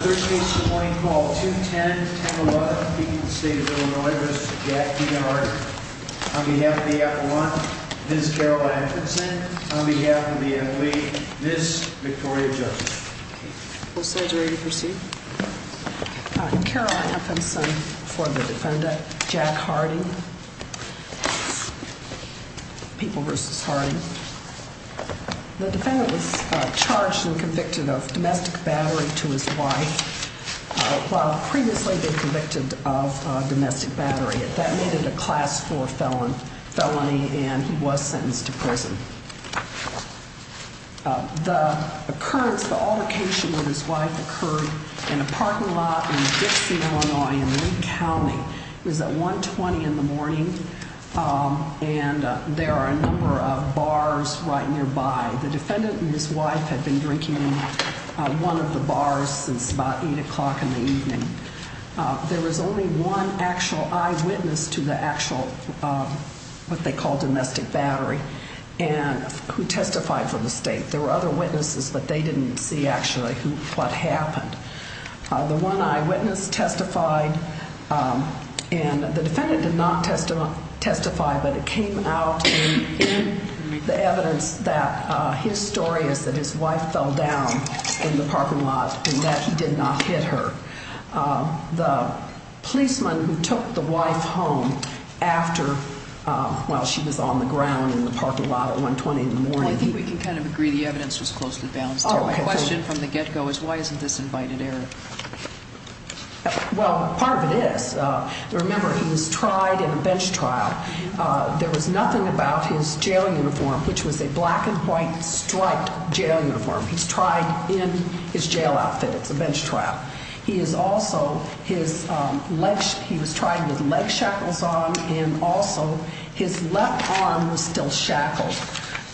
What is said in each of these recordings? On behalf of the athlete, Ms. Victoria Josephson. The defendant was charged and convicted of domestic battery to his wife while previously being convicted of domestic battery. That made it a class 4 felony and he was sentenced to prison. The occurrence, the altercation with his wife occurred in a parking lot in Dixie, Illinois in Lee County. It was at 1.20 in the morning and there are a number of bars right nearby. The defendant and his wife had been drinking in one of the bars since about 8 o'clock in the evening. There was only one actual eyewitness to the actual, what they call domestic battery. And who testified for the state. There were other witnesses, but they didn't see actually what happened. The one eyewitness testified and the defendant did not testify, but it came out in the evidence that his story is that his wife fell down in the parking lot and that he did not hit her. The policeman who took the wife home after, while she was on the ground in the parking lot at 1.20 in the morning. I think we can kind of agree the evidence was closely balanced. My question from the get-go is why isn't this invited error? Well, part of it is, remember he was tried in a bench trial. There was nothing about his jail uniform, which was a black and white striped jail uniform. He's tried in his jail outfit, it's a bench trial. He is also, he was tried with leg shackles on and also his left arm was still shackled.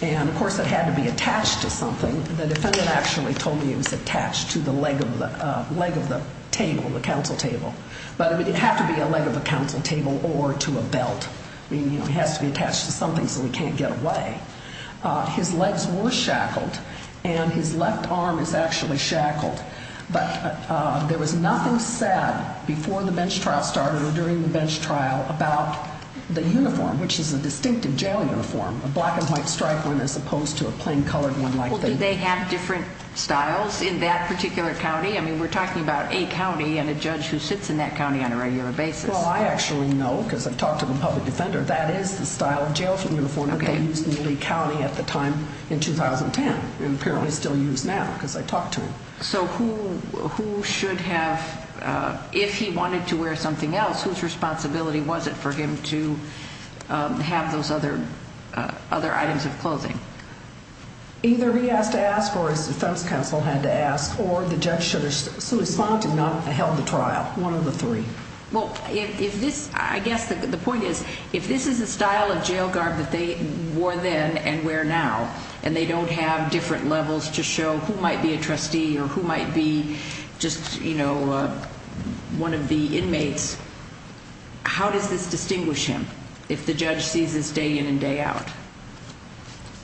And of course it had to be attached to something. The defendant actually told me it was attached to the leg of the table, the council table. But it would have to be a leg of the council table or to a belt. It has to be attached to something so he can't get away. His legs were shackled and his left arm is actually shackled. But there was nothing sad before the bench trial started or during the bench trial about the uniform, which is a distinctive jail uniform, a black and white striped one as opposed to a plain colored one like this. Well, do they have different styles in that particular county? I mean, we're talking about a county and a judge who sits in that county on a regular basis. Well, I actually know because I've talked to the public defender. That is the style of jail uniform that they used in Lee County at the time in 2010 and apparently still use now because I talked to him. So who should have, if he wanted to wear something else, whose responsibility was it for him to have those other items of clothing? Either he has to ask or his defense counsel had to ask or the judge should have responded and not held the trial, one of the three. Well, I guess the point is if this is the style of jail garb that they wore then and wear now and they don't have different levels to show who might be a trustee or who might be just, you know, one of the inmates, how does this distinguish him if the judge sees this day in and day out?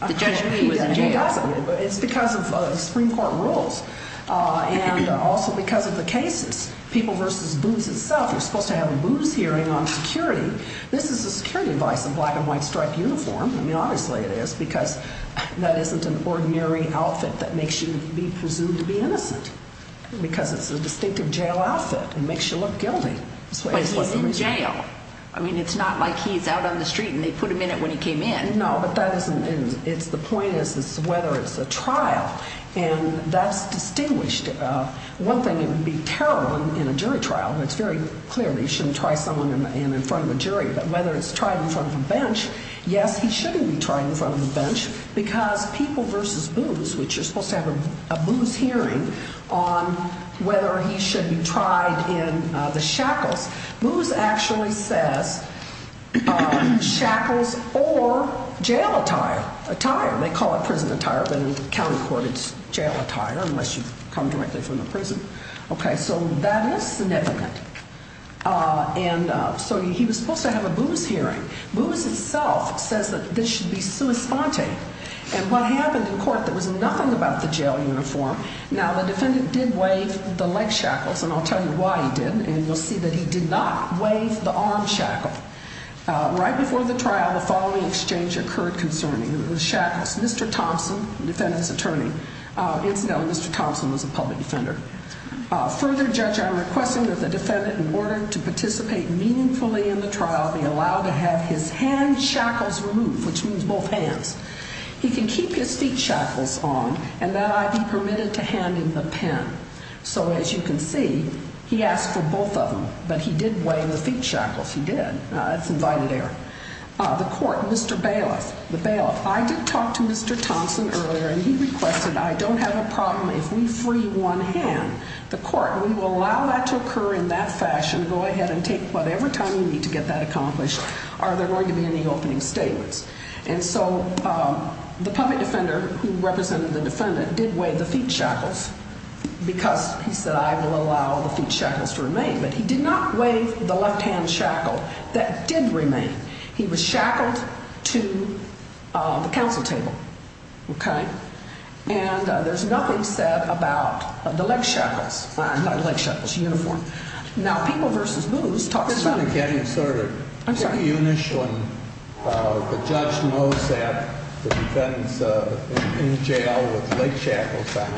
It's because of the Supreme Court rules and also because of the cases. People versus booths itself, you're supposed to have a booth hearing on security. This is a security device, a black and white striped uniform. I mean, obviously it is because that isn't an ordinary outfit that makes you be presumed to be innocent because it's a distinctive jail outfit and makes you look guilty. But he's in jail. I mean, it's not like he's out on the street and they put him in it when he came in. No, but that isn't it. The point is whether it's a trial and that's distinguished. One thing, it would be terrible in a jury trial. But whether it's tried in front of a bench, yes, he shouldn't be tried in front of a bench because people versus booths, which you're supposed to have a booth hearing on whether he should be tried in the shackles. Booths actually says shackles or jail attire. They call it prison attire, but in county court it's jail attire unless you come directly from the prison. Okay, so that is significant. And so he was supposed to have a booth hearing. Booths itself says that this should be sua sponte. And what happened in court, there was nothing about the jail uniform. Now, the defendant did wave the leg shackles, and I'll tell you why he did. And you'll see that he did not wave the arm shackle. Right before the trial, the following exchange occurred concerning the shackles. Mr. Thompson, the defendant's attorney, incidentally, Mr. Thompson was a public defender. Further, Judge, I'm requesting that the defendant, in order to participate meaningfully in the trial, be allowed to have his hand shackles removed, which means both hands. He can keep his feet shackles on, and that I be permitted to hand him the pen. So as you can see, he asked for both of them, but he did wave the feet shackles. He did. That's invited error. The court, Mr. Bailiff, the bailiff, I did talk to Mr. Thompson earlier, and he requested, I don't have a problem if we free one hand. The court, we will allow that to occur in that fashion. Go ahead and take whatever time you need to get that accomplished. Are there going to be any opening statements? And so the public defender who represented the defendant did wave the feet shackles because he said, I will allow the feet shackles to remain. But he did not wave the left-hand shackle that did remain. He was shackled to the counsel table. Okay? And there's nothing said about the leg shackles. Well, not the leg shackles, the uniform. Now, People v. Booze talks about it. I'm sorry. I'm sorry. The judge knows that the defendant's in jail with leg shackles on,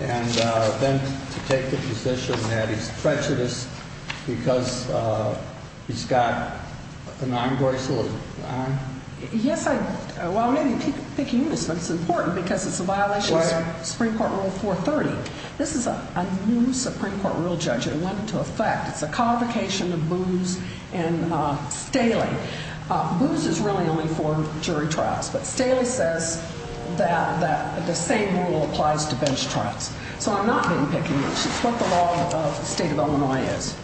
and then to take the position that he's treacherous because he's got an arm bracelet on? Yes, well, maybe you're picking on this, but it's important because it's a violation of Supreme Court Rule 430. This is a new Supreme Court rule, Judge, and it went into effect. It's a convocation of Booze and Staley. Booze is really only for jury trials. But Staley says that the same rule applies to bench trials. So I'm not being picky. It's what the law of the state of Illinois is.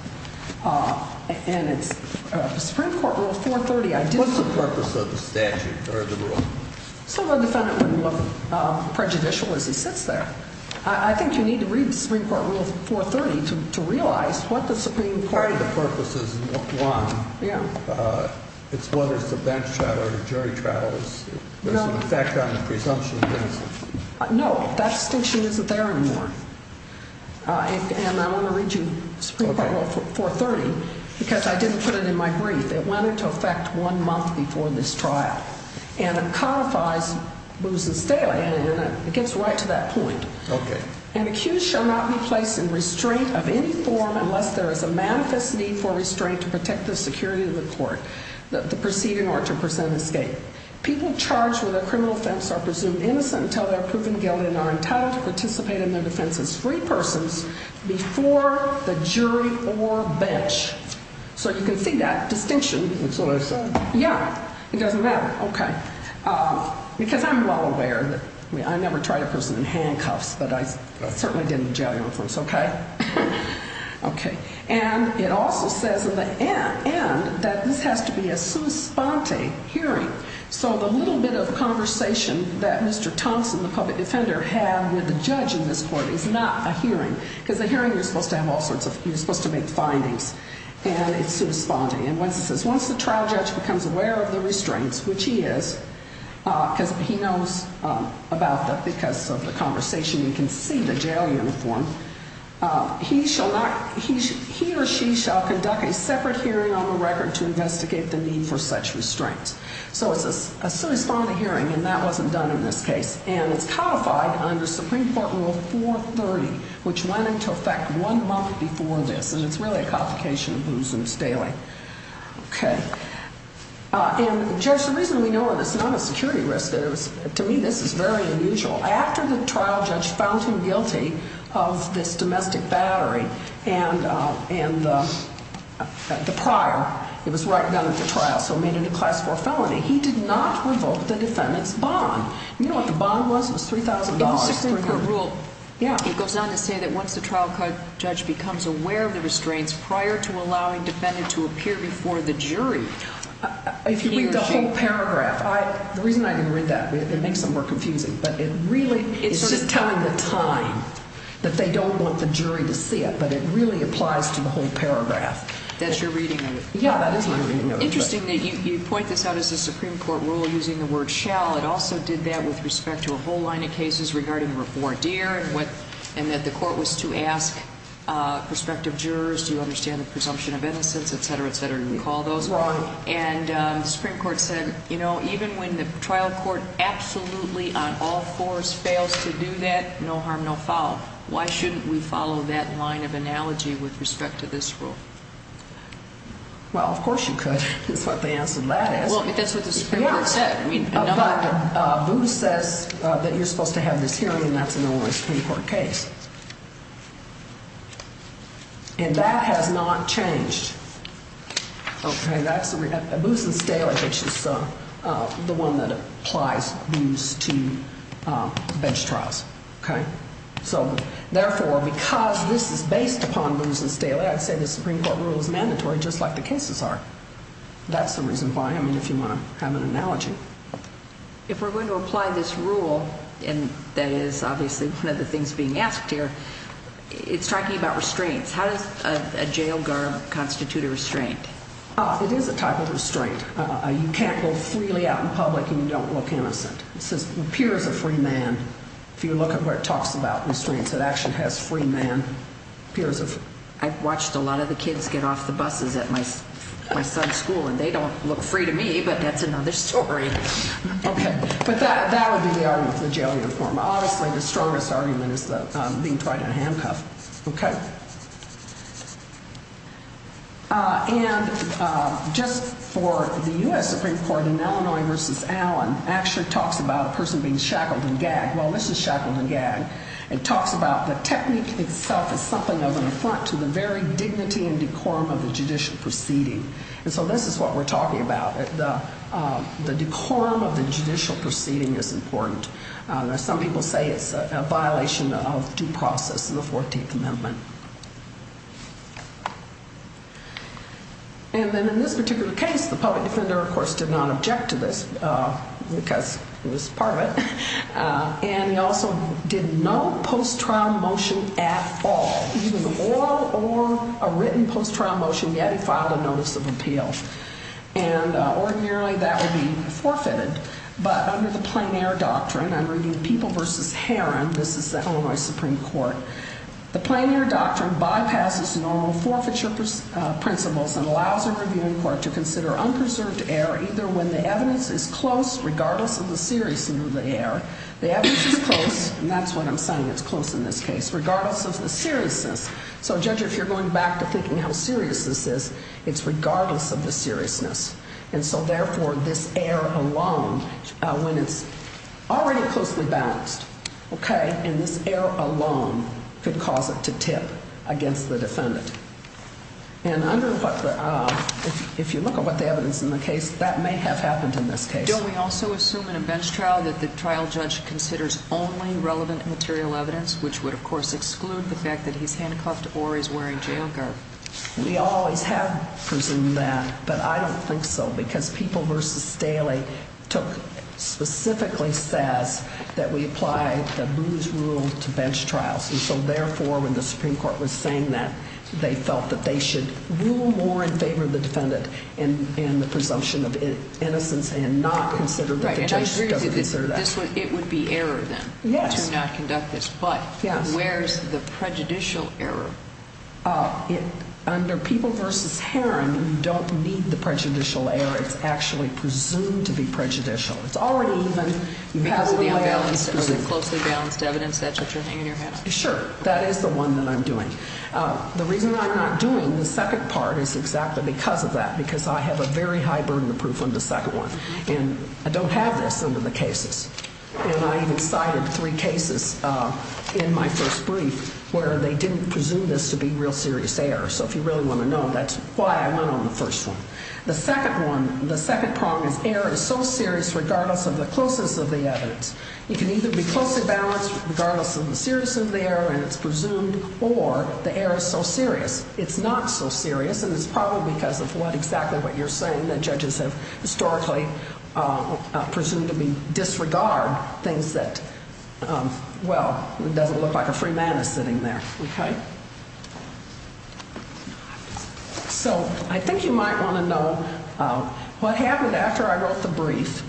And it's Supreme Court Rule 430. What's the purpose of the statute or the rule? So the defendant wouldn't look prejudicial as he sits there. I think you need to read Supreme Court Rule 430 to realize what the Supreme Court rule is. Part of the purpose is look one. Yeah. Whether it's a bench trial or a jury trial, there's an effect on the presumption of innocence. No, that distinction isn't there anymore. And I want to read you Supreme Court Rule 430 because I didn't put it in my brief. It went into effect one month before this trial, and it codifies Booze and Staley, and it gets right to that point. Okay. An accused shall not be placed in restraint of any form unless there is a manifest need for restraint to protect the security of the court. The proceeding ought to present escape. People charged with a criminal offense are presumed innocent until they're proven guilty and are entitled to participate in their defense as free persons before the jury or bench. So you can see that distinction. That's what I said. Yeah. It doesn't matter. Okay. Because I'm well aware that I never tried a person in handcuffs, but I certainly didn't in jail uniforms, okay? Okay. And it also says in the end that this has to be a sui sponte hearing. So the little bit of conversation that Mr. Thompson, the public defender, had with the judge in this court is not a hearing. Because a hearing, you're supposed to have all sorts of, you're supposed to make findings, and it's sui sponte. And once the trial judge becomes aware of the restraints, which he is, because he knows about them because of the conversation, you can see the jail uniform, he shall not, he or she shall conduct a separate hearing on the record to investigate the need for such restraints. So it's a sui sponte hearing, and that wasn't done in this case. And it's codified under Supreme Court Rule 430, which went into effect one month before this. And it's really a complication of Booz and Staley. Okay. And, Judge, the reason we know of this is not a security risk. To me, this is very unusual. After the trial judge found him guilty of this domestic battery and the prior, it was right down at the trial, so it made it a Class 4 felony. He did not revoke the defendant's bond. You know what the bond was? It was $3,000. In the Supreme Court rule, it goes on to say that once the trial judge becomes aware of the restraints prior to allowing the defendant to appear before the jury, he or she… If you read the whole paragraph, the reason I didn't read that, it makes it more confusing. But it really is just telling the time that they don't want the jury to see it. But it really applies to the whole paragraph. That's your reading of it. Yeah, that is my reading of it. It's interesting that you point this out as a Supreme Court rule using the word shall. It also did that with respect to a whole line of cases regarding voir dire and that the court was to ask prospective jurors, do you understand the presumption of innocence, et cetera, et cetera. You recall those. Right. And the Supreme Court said, you know, even when the trial court absolutely on all fours fails to do that, no harm, no foul. Why shouldn't we follow that line of analogy with respect to this rule? Well, of course you could. That's what the answer to that is. Well, that's what the Supreme Court said. Yeah. But Booz says that you're supposed to have this hearing and that's a normal Supreme Court case. And that has not changed. Okay. Booz and Staley, which is the one that applies Booz to bench trials. Okay. So, therefore, because this is based upon Booz and Staley, I'd say the Supreme Court rule is mandatory just like the cases are. That's the reason why, I mean, if you want to have an analogy. If we're going to apply this rule, and that is obviously one of the things being asked here, it's talking about restraints. How does a jail guard constitute a restraint? It is a type of restraint. You can't go freely out in public and you don't look innocent. It says, appears a free man. If you look at where it talks about restraints, it actually has free man. I've watched a lot of the kids get off the buses at my son's school, and they don't look free to me, but that's another story. Okay. But that would be the argument for the jail uniform. Obviously, the strongest argument is being tried in a handcuff. Okay. And just for the U.S. Supreme Court, in Illinois v. Allen, actually talks about a person being shackled and gagged. Well, this is shackled and gagged. It talks about the technique itself is something of an affront to the very dignity and decorum of the judicial proceeding. And so this is what we're talking about. The decorum of the judicial proceeding is important. Some people say it's a violation of due process in the 14th Amendment. And then in this particular case, the public defender, of course, did not object to this because it was part of it. And he also did no post-trial motion at all, either the oral or a written post-trial motion, yet he filed a notice of appeal. And ordinarily, that would be forfeited. But under the plain air doctrine, I'm reading People v. Heron. This is the Illinois Supreme Court. The plain air doctrine bypasses normal forfeiture principles and allows a reviewing court to consider unpreserved air either when the evidence is close, regardless of the seriousness of the air. The evidence is close, and that's what I'm saying, it's close in this case, regardless of the seriousness. So, Judge, if you're going back to thinking how serious this is, it's regardless of the seriousness. And so, therefore, this air alone, when it's already closely balanced, okay, and this air alone could cause it to tip against the defendant. And if you look at what the evidence in the case, that may have happened in this case. Judge, don't we also assume in a bench trial that the trial judge considers only relevant material evidence, which would, of course, exclude the fact that he's handcuffed or he's wearing jail guard? We always have presumed that, but I don't think so because People v. Staley specifically says that we apply the Booze Rule to bench trials. And so, therefore, when the Supreme Court was saying that, they felt that they should rule more in favor of the defendant in the presumption of innocence and not consider that the judge doesn't consider that. Right, and I agree with you that it would be error, then, to not conduct this. But where's the prejudicial error? Under People v. Herron, you don't need the prejudicial error. It's actually presumed to be prejudicial. Because of the unbalanced or the closely balanced evidence that you're hanging in your hands? Sure, that is the one that I'm doing. The reason I'm not doing the second part is exactly because of that, because I have a very high burden of proof on the second one. And I don't have this under the cases. And I even cited three cases in my first brief where they didn't presume this to be real serious error. So if you really want to know, that's why I went on the first one. The second one, the second problem is error is so serious regardless of the closeness of the evidence. You can either be closely balanced regardless of the seriousness of the error, and it's presumed, or the error is so serious, it's not so serious. And it's probably because of exactly what you're saying, that judges have historically presumed to disregard things that, well, it doesn't look like a free man is sitting there. Okay? So I think you might want to know what happened after I wrote the brief.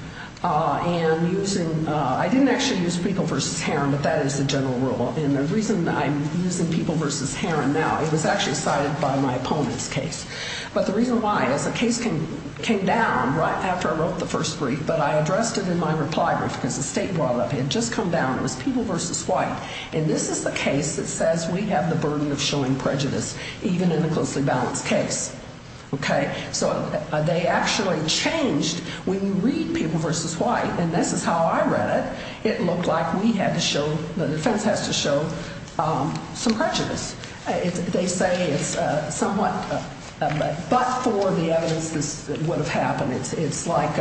And using, I didn't actually use People v. Herron, but that is the general rule. And the reason I'm using People v. Herron now, it was actually cited by my opponent's case. But the reason why is the case came down right after I wrote the first brief, but I addressed it in my reply brief because the state brought it up. It had just come down. It was People v. White. And this is the case that says we have the burden of showing prejudice, even in a closely balanced case. Okay? So they actually changed. When you read People v. White, and this is how I read it, it looked like we had to show, the defense has to show some prejudice. They say it's somewhat, but for the evidence this would have happened, it's like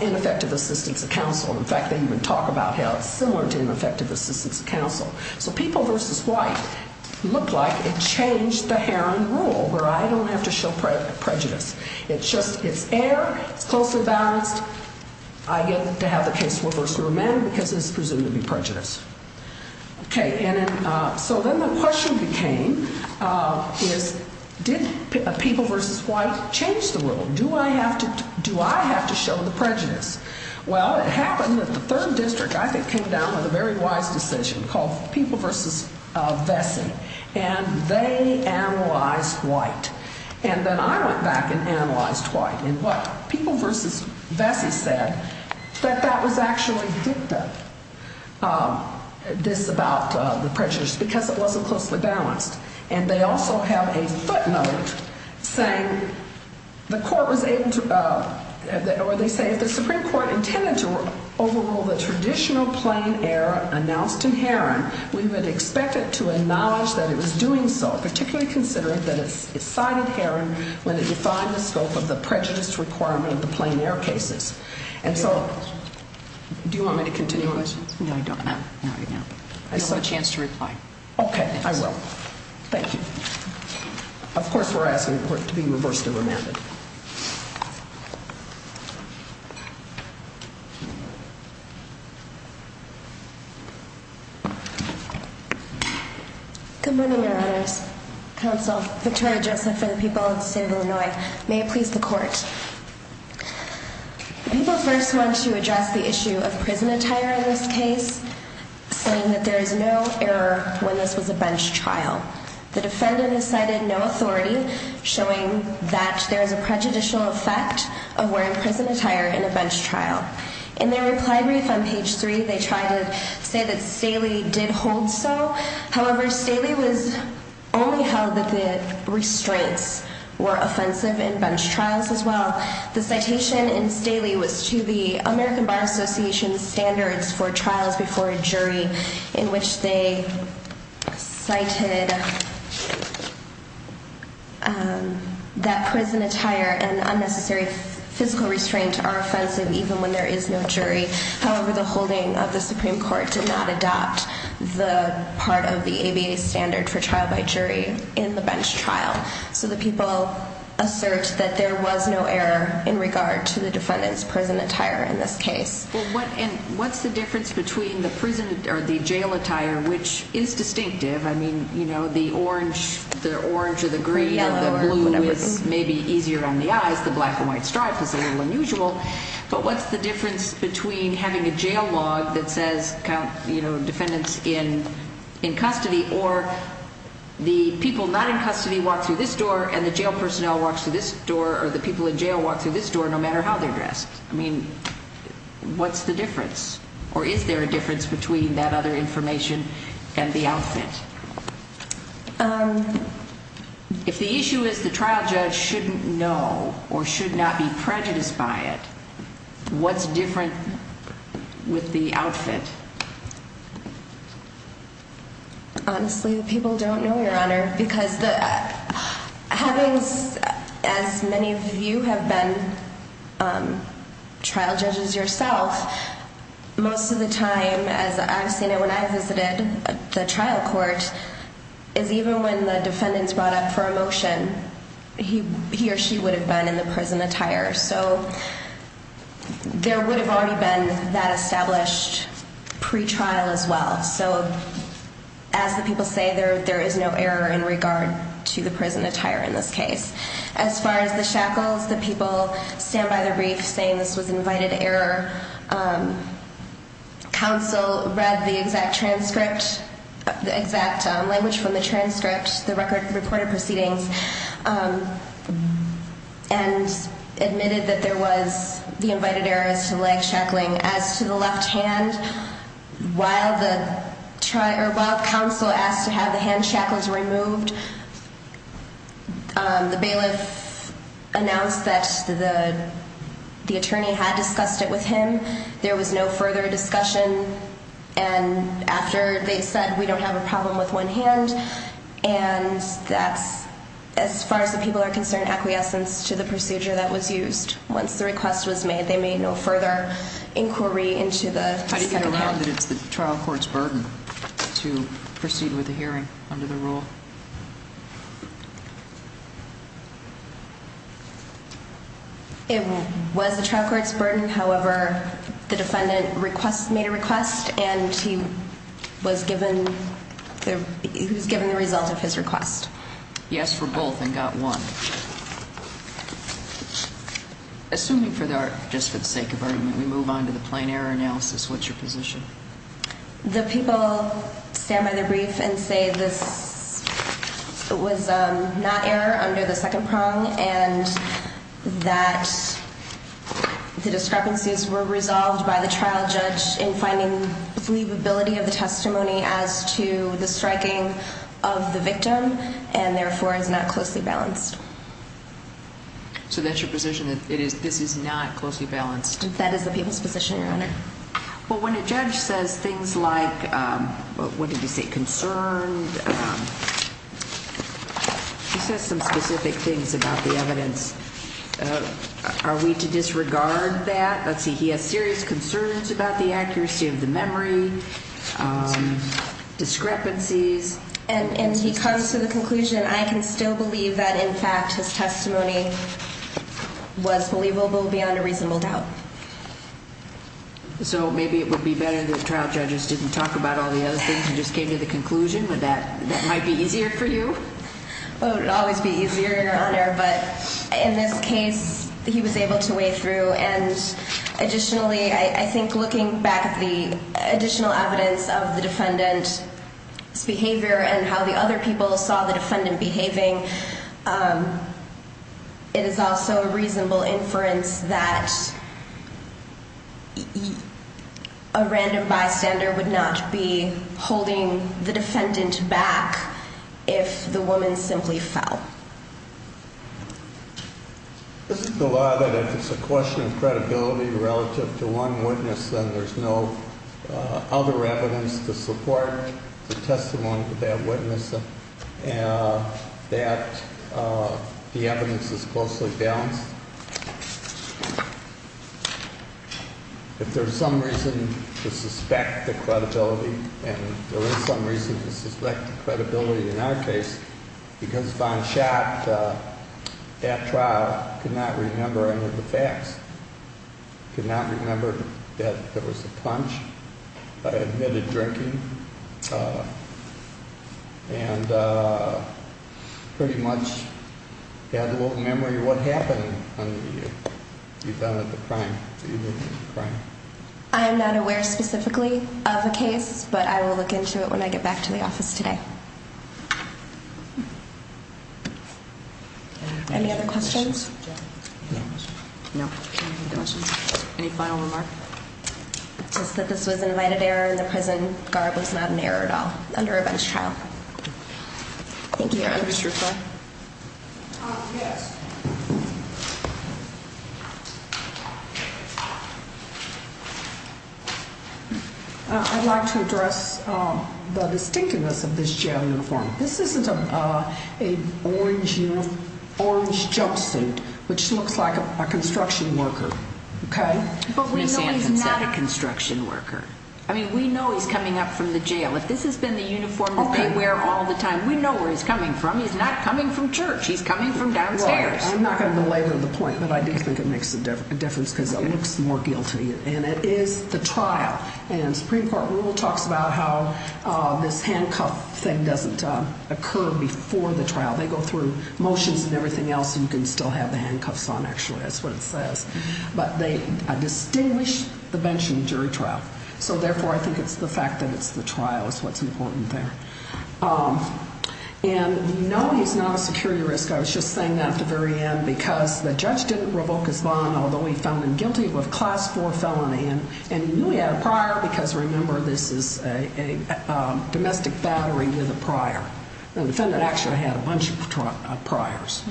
ineffective assistance of counsel. In fact, they even talk about how it's similar to ineffective assistance of counsel. So People v. White looked like it changed the Herron rule where I don't have to show prejudice. It's just, it's air, it's closely balanced. I get to have the case reversed for a man because it's presumed to be prejudice. Okay. So then the question became is did People v. White change the rule? Do I have to show the prejudice? Well, it happened that the third district, I think, came down with a very wise decision called People v. Vesey. And they analyzed White. And then I went back and analyzed White. And what People v. Vesey said, that that was actually dicta, this about the prejudice, because it wasn't closely balanced. And they also have a footnote saying the court was able to, or they say if the Supreme Court intended to overrule the traditional plain air announced in Herron, we would expect it to acknowledge that it was doing so, particularly considering that it cited Herron when it defined the scope of the prejudice requirement of the plain air cases. And so, do you want me to continue on this? No, I don't. Not right now. You'll have a chance to reply. Okay. I will. Thank you. Of course, we're asking the court to be reversed and remanded. Good morning, Your Honors. Counsel Victoria Joseph for the people of the state of Illinois. May it please the court. People first want to address the issue of prison attire in this case, saying that there is no error when this was a bench trial. The defendant has cited no authority, showing that there is a prejudicial effect of wearing prison attire in a bench trial. In their reply brief on page three, they try to say that Staley did hold so. However, Staley was only held that the restraints were offensive in bench trials as well. The citation in Staley was to the American Bar Association standards for trials before a jury, in which they cited that prison attire and unnecessary physical restraint are offensive even when there is no jury. However, the holding of the Supreme Court did not adopt the part of the ABA standard for trial by jury in the bench trial. So the people assert that there was no error in regard to the defendant's prison attire in this case. What's the difference between the prison or the jail attire, which is distinctive? I mean, you know, the orange or the green or the blue is maybe easier on the eyes. The black and white stripe is a little unusual. But what's the difference between having a jail log that says, you know, defendants in custody or the people not in custody walk through this door and the jail personnel walk through this door or the people in jail walk through this door no matter how they're dressed? I mean, what's the difference? Or is there a difference between that other information and the outfit? If the issue is the trial judge shouldn't know or should not be prejudiced by it, what's different with the outfit? Honestly, the people don't know, Your Honor, because having as many of you have been trial judges yourself, most of the time, as I've seen it when I visited the trial court, is even when the defendants brought up for a motion, he or she would have been in the prison attire. So there would have already been that established pretrial as well. So as the people say, there is no error in regard to the prison attire in this case. As far as the shackles, the people stand by the brief saying this was invited error. Counsel read the exact transcript, the exact language from the transcript, the recorded proceedings, and admitted that there was the invited errors to leg shackling. As to the left hand, while counsel asked to have the hand shackles removed, the bailiff announced that the attorney had discussed it with him. There was no further discussion. And after they said, we don't have a problem with one hand, and that's, as far as the people are concerned, acquiescence to the procedure that was used. Once the request was made, they made no further inquiry into the trial court's burden to proceed with the hearing under the rule. It was the trial court's burden. However, the defendant request made a request, and he was given the he was given the result of his request. He asked for both and got one. Assuming for the just for the sake of argument, we move on to the plain error analysis, what's your position? The people stand by the brief and say this was not error under the second prong and that the discrepancies were resolved by the trial judge in finding believability of the testimony as to the striking of the victim and therefore is not closely balanced. So that's your position. It is. This is not closely balanced. That is the people's position. Your Honor. Well, when a judge says things like what did you say? Concerned. He says some specific things about the evidence. Are we to disregard that? Let's see. He has serious concerns about the accuracy of the memory discrepancies, and he comes to the conclusion. I can still believe that. In fact, his testimony was believable beyond a reasonable doubt. So maybe it would be better. The trial judges didn't talk about all the other things. You just came to the conclusion with that. That might be easier for you. It would always be easier, Your Honor. But in this case, he was able to weigh through. And additionally, I think looking back at the additional evidence of the defendant's behavior and how the other people saw the defendant behaving, it is also a reasonable inference that a random bystander would not be holding the defendant back if the woman simply fell. This is the law that if it's a question of credibility relative to one witness, then there's no other evidence to support the testimony of that witness that the evidence is closely balanced. If there's some reason to suspect the credibility, and there is some reason to suspect the credibility in our case, because Von Schacht at trial could not remember any of the facts, could not remember that there was a punch, admitted drinking, and pretty much had no memory of what happened. I am not aware specifically of a case, but I will look into it when I get back to the office today. Any other questions? No. Any final remarks? Just that this was an invited error and the prison guard was not an error at all under a bench trial. Thank you, Your Honor. Yes. I'd like to address the distinctiveness of this jail uniform. This isn't a orange jumpsuit, which looks like a construction worker, okay? But we know he's not a construction worker. I mean, we know he's coming up from the jail. If this has been the uniform that they wear all the time, we know where he's coming from. He's not coming from church. He's coming from downstairs. Well, I'm not going to belabor the point, but I do think it makes a difference because it looks more guilty, and it is the trial. And Supreme Court rule talks about how this handcuff thing doesn't occur before the trial. They go through motions and everything else. You can still have the handcuffs on, actually. That's what it says. But they distinguish the bench from jury trial. So, therefore, I think it's the fact that it's the trial is what's important there. And you know he's not a security risk. I was just saying that at the very end because the judge didn't revoke his bond, although he found him guilty of a Class 4 felony. And he knew he had a prior because, remember, this is a domestic battery with a prior. The defendant actually had a bunch of priors.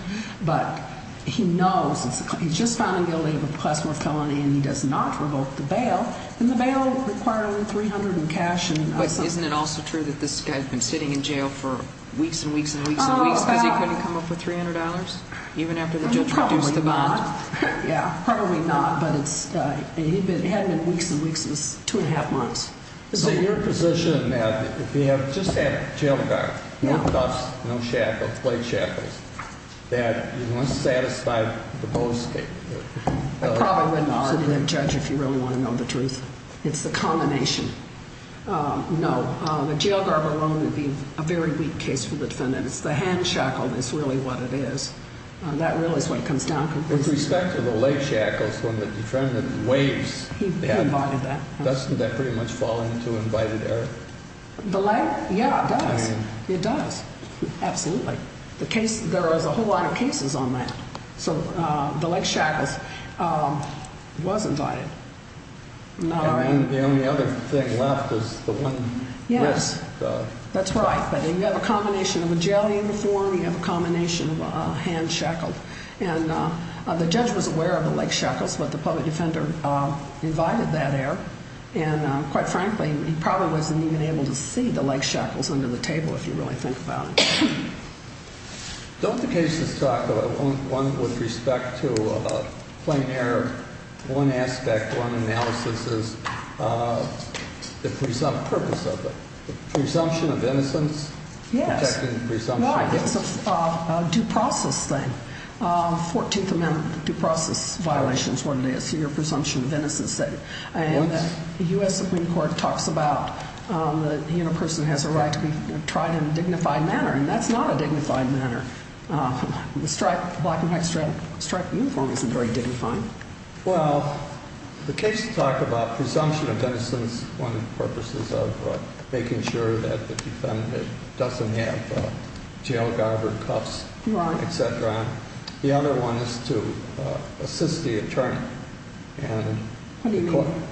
But he knows he's just found him guilty of a Class 4 felony, and he does not revoke the bail. And the bail required only $300 in cash. But isn't it also true that this guy's been sitting in jail for weeks and weeks and weeks and weeks because he couldn't come up with $300? Even after the judge reduced the bond. Probably not. Yeah, probably not. But it had been weeks and weeks. It was two and a half months. Is it your position that if you have just had jail time, no cuffs, no shackles, plate shackles, that you must satisfy the post? I probably wouldn't argue that, Judge, if you really want to know the truth. It's the combination. No. The jail guard alone would be a very weak case for the defendant. It's the hand shackle that's really what it is. That really is what comes down. With respect to the leg shackles, when the defendant waves, doesn't that pretty much fall into invited error? The leg? Yeah, it does. It does. Absolutely. There is a whole lot of cases on that. So the leg shackles was invited. And the only other thing left is the one wrist cuff. Yes, that's right. But you have a combination of a jail uniform. You have a combination of a hand shackle. And the judge was aware of the leg shackles, but the public defender invited that error. And quite frankly, he probably wasn't even able to see the leg shackles under the table, if you really think about it. Don't the cases talk about one with respect to plain error? One aspect, one analysis is the presumptive purpose of it. The presumption of innocence? Yes. Protecting the presumption of innocence. No, I think it's a due process thing. Fourteenth Amendment due process violation is what it is. Your presumption of innocence thing. The U.S. Supreme Court talks about the person has a right to be tried in a dignified manner, and that's not a dignified manner. The black and white striped uniform isn't very dignified. Well, the case talked about presumption of innocence on the purposes of making sure that the defendant doesn't have jail garb or cuffs, et cetera. The other one is to assist the attorney. What do you call it?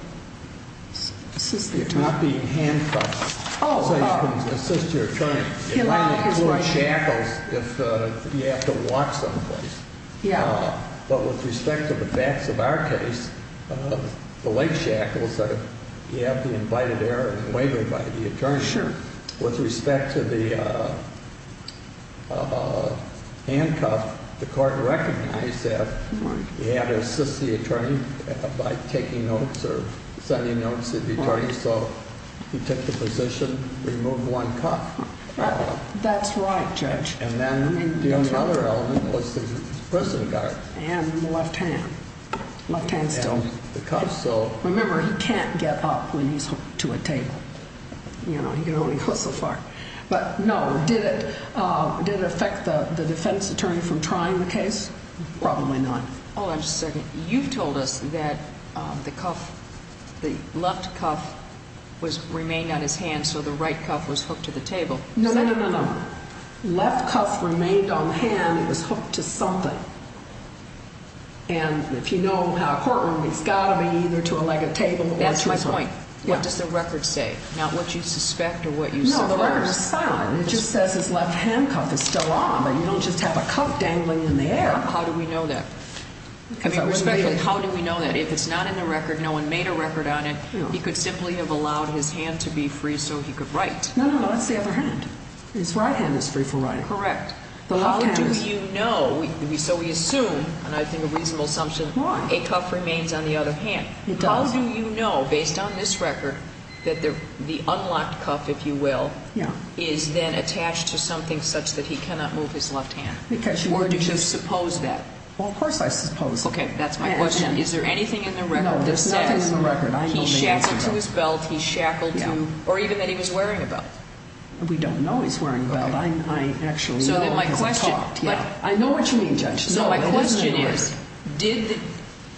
Assist the attorney. Not being handcuffed. Oh, oh. So you can assist your attorney. He lied. It might include shackles if you have to walk someplace. Yeah. But with respect to the facts of our case, the leg shackles, you have the invited error and waiver by the attorney. Sure. With respect to the handcuff, the court recognized that you had to assist the attorney by taking notes or sending notes to the attorney. So he took the position, removed one cuff. That's right, Judge. And then the other element was the prison guard. And the left hand. Left hand still. And the cuff, so. Remember, he can't get up when he's hooked to a table. You know, he can only go so far. But, no, did it affect the defense attorney from trying the case? Probably not. Hold on just a second. You've told us that the cuff, the left cuff was remained on his hand, so the right cuff was hooked to the table. No, no, no, no. Left cuff remained on the hand. It was hooked to something. And if you know in a courtroom, it's got to be either to a leg of table or to something. That's my point. What does the record say? Not what you suspect or what you suppose. No, the record is silent. It just says his left handcuff is still on, but you don't just have a cuff dangling in the air. How do we know that? I mean, respectfully, how do we know that? If it's not in the record, no one made a record on it, he could simply have allowed his hand to be free so he could write. No, no, no, it's the other hand. His right hand is free for writing. Correct. How do you know, so we assume, and I think a reasonable assumption, a cuff remains on the other hand. It does. How do you know, based on this record, that the unlocked cuff, if you will, is then attached to something such that he cannot move his left hand? Or did you suppose that? Well, of course I supposed that. Okay, that's my question. Is there anything in the record that says he shackled to his belt, he shackled to, or even that he was wearing a belt? We don't know he's wearing a belt. I know what you mean, Judge. So my question is,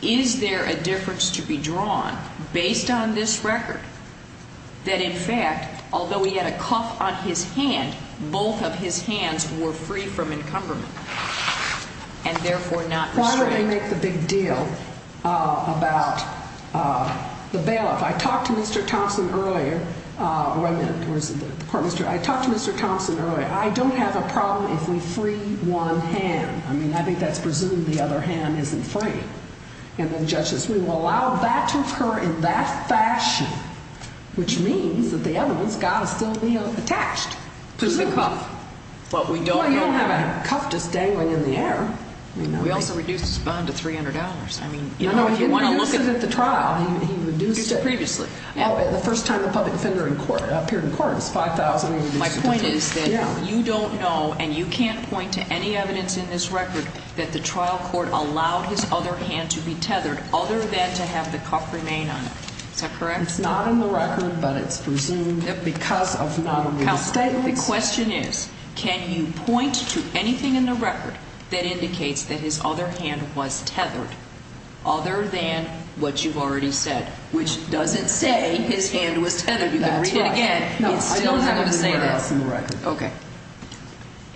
is there a difference to be drawn based on this record that in fact, although he had a cuff on his hand, both of his hands were free from encumberment and therefore not restrained? Why would I make the big deal about the bailiff? I talked to Mr. Thompson earlier, I don't have a problem if we free one hand. I mean, I think that's presuming the other hand isn't free. And the judge says we will allow that to occur in that fashion, which means that the other one's got to still be attached. To the cuff. Well, you don't have a cuff just dangling in the air. We also reduced his bond to $300. No, no, he didn't use it at the trial. He reduced it previously. The first time the public defender appeared in court, it was $5,000. My point is that you don't know and you can't point to any evidence in this record that the trial court allowed his other hand to be tethered other than to have the cuff remain on it. Is that correct? It's not in the record, but it's presumed because of not only the statements. The question is, can you point to anything in the record that indicates that his other hand was tethered other than what you've already said, which doesn't say his hand was tethered. You can read it again. No, I don't have anything else in the record. Okay.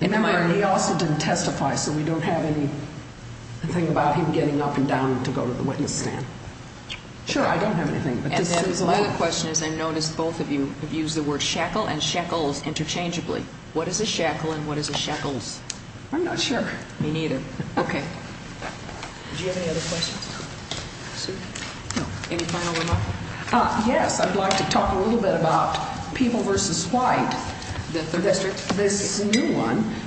Remember, he also didn't testify, so we don't have anything about him getting up and down to go to the witness stand. Sure, I don't have anything. Another question is I noticed both of you have used the word shackle and shackles interchangeably. What is a shackle and what is a shackles? I'm not sure. Me neither. Okay. Do you have any other questions? No. Any final remarks? Yes, I'd like to talk a little bit about People v. White, the third district.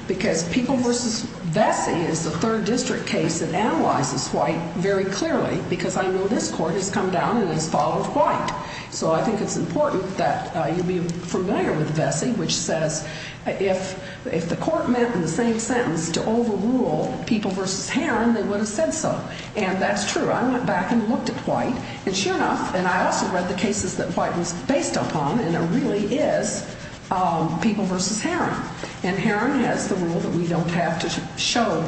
Because People v. Vesey is the third district case that analyzes White very clearly because I know this court has come down and has followed White. So I think it's important that you be familiar with Vesey, which says if the court meant in the same sentence to overrule People v. Heron, they would have said so. And that's true. And sure enough, and I also read the cases that White was based upon, and there really is People v. Heron. And Heron has the rule that we don't have to show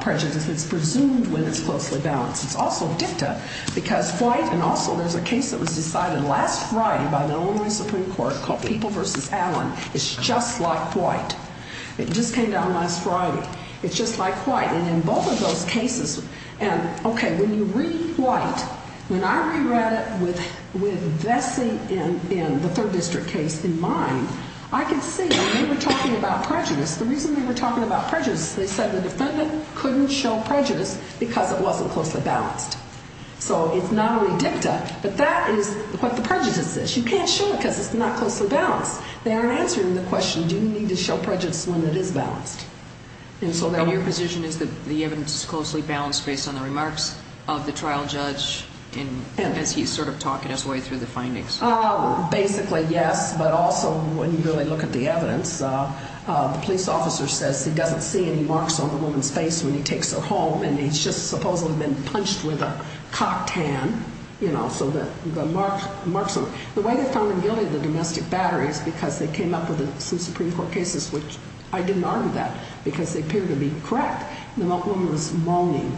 prejudice. It's presumed when it's closely balanced. It's also dicta because White and also there's a case that was decided last Friday by the Illinois Supreme Court called People v. Allen. It's just like White. It just came down last Friday. It's just like White. And in both of those cases, and, okay, when you read White, when I re-read it with Vesey in the third district case in mind, I could see that they were talking about prejudice. The reason they were talking about prejudice, they said the defendant couldn't show prejudice because it wasn't closely balanced. So it's not only dicta, but that is what the prejudice is. You can't show it because it's not closely balanced. They aren't answering the question, do you need to show prejudice when it is balanced? And so then your position is that the evidence is closely balanced based on the remarks of the trial judge as he's sort of talking his way through the findings? Basically, yes, but also when you really look at the evidence, the police officer says he doesn't see any marks on the woman's face when he takes her home, and he's just supposedly been punched with a cocktail, you know, so the marks are there. The way they found him guilty of the domestic battery is because they came up with some Supreme Court cases which I didn't argue that because they appeared to be correct. The woman was moaning,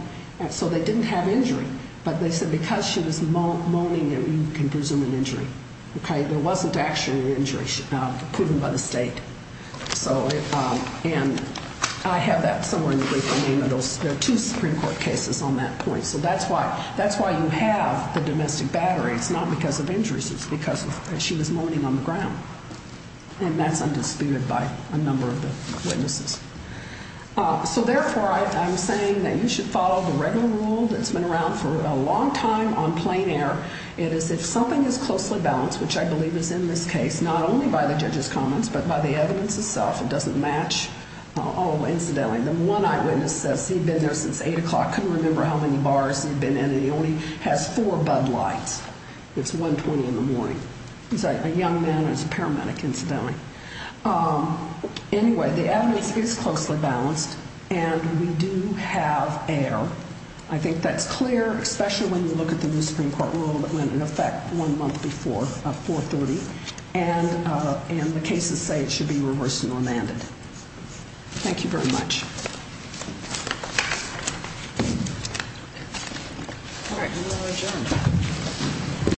so they didn't have injury, but they said because she was moaning, you can presume an injury. Okay, there wasn't actually an injury proven by the state. And I have that somewhere in the brief, the name of those two Supreme Court cases on that point. So that's why you have the domestic battery. It's not because of injuries. It's because she was moaning on the ground, and that's undisputed by a number of the witnesses. So therefore, I'm saying that you should follow the regular rule that's been around for a long time on plain air. It is if something is closely balanced, which I believe is in this case not only by the judge's comments but by the evidence itself, it doesn't match. Oh, incidentally, the one eyewitness says he'd been there since 8 o'clock, couldn't remember how many bars he'd been in, and he only has four bud lights. It's 1.20 in the morning. He's a young man who's a paramedic, incidentally. Anyway, the evidence is closely balanced, and we do have error. I think that's clear, especially when you look at the new Supreme Court rule that went into effect one month before 4.30, and the cases say it should be reversed and remanded. Thank you very much. All right, we will adjourn.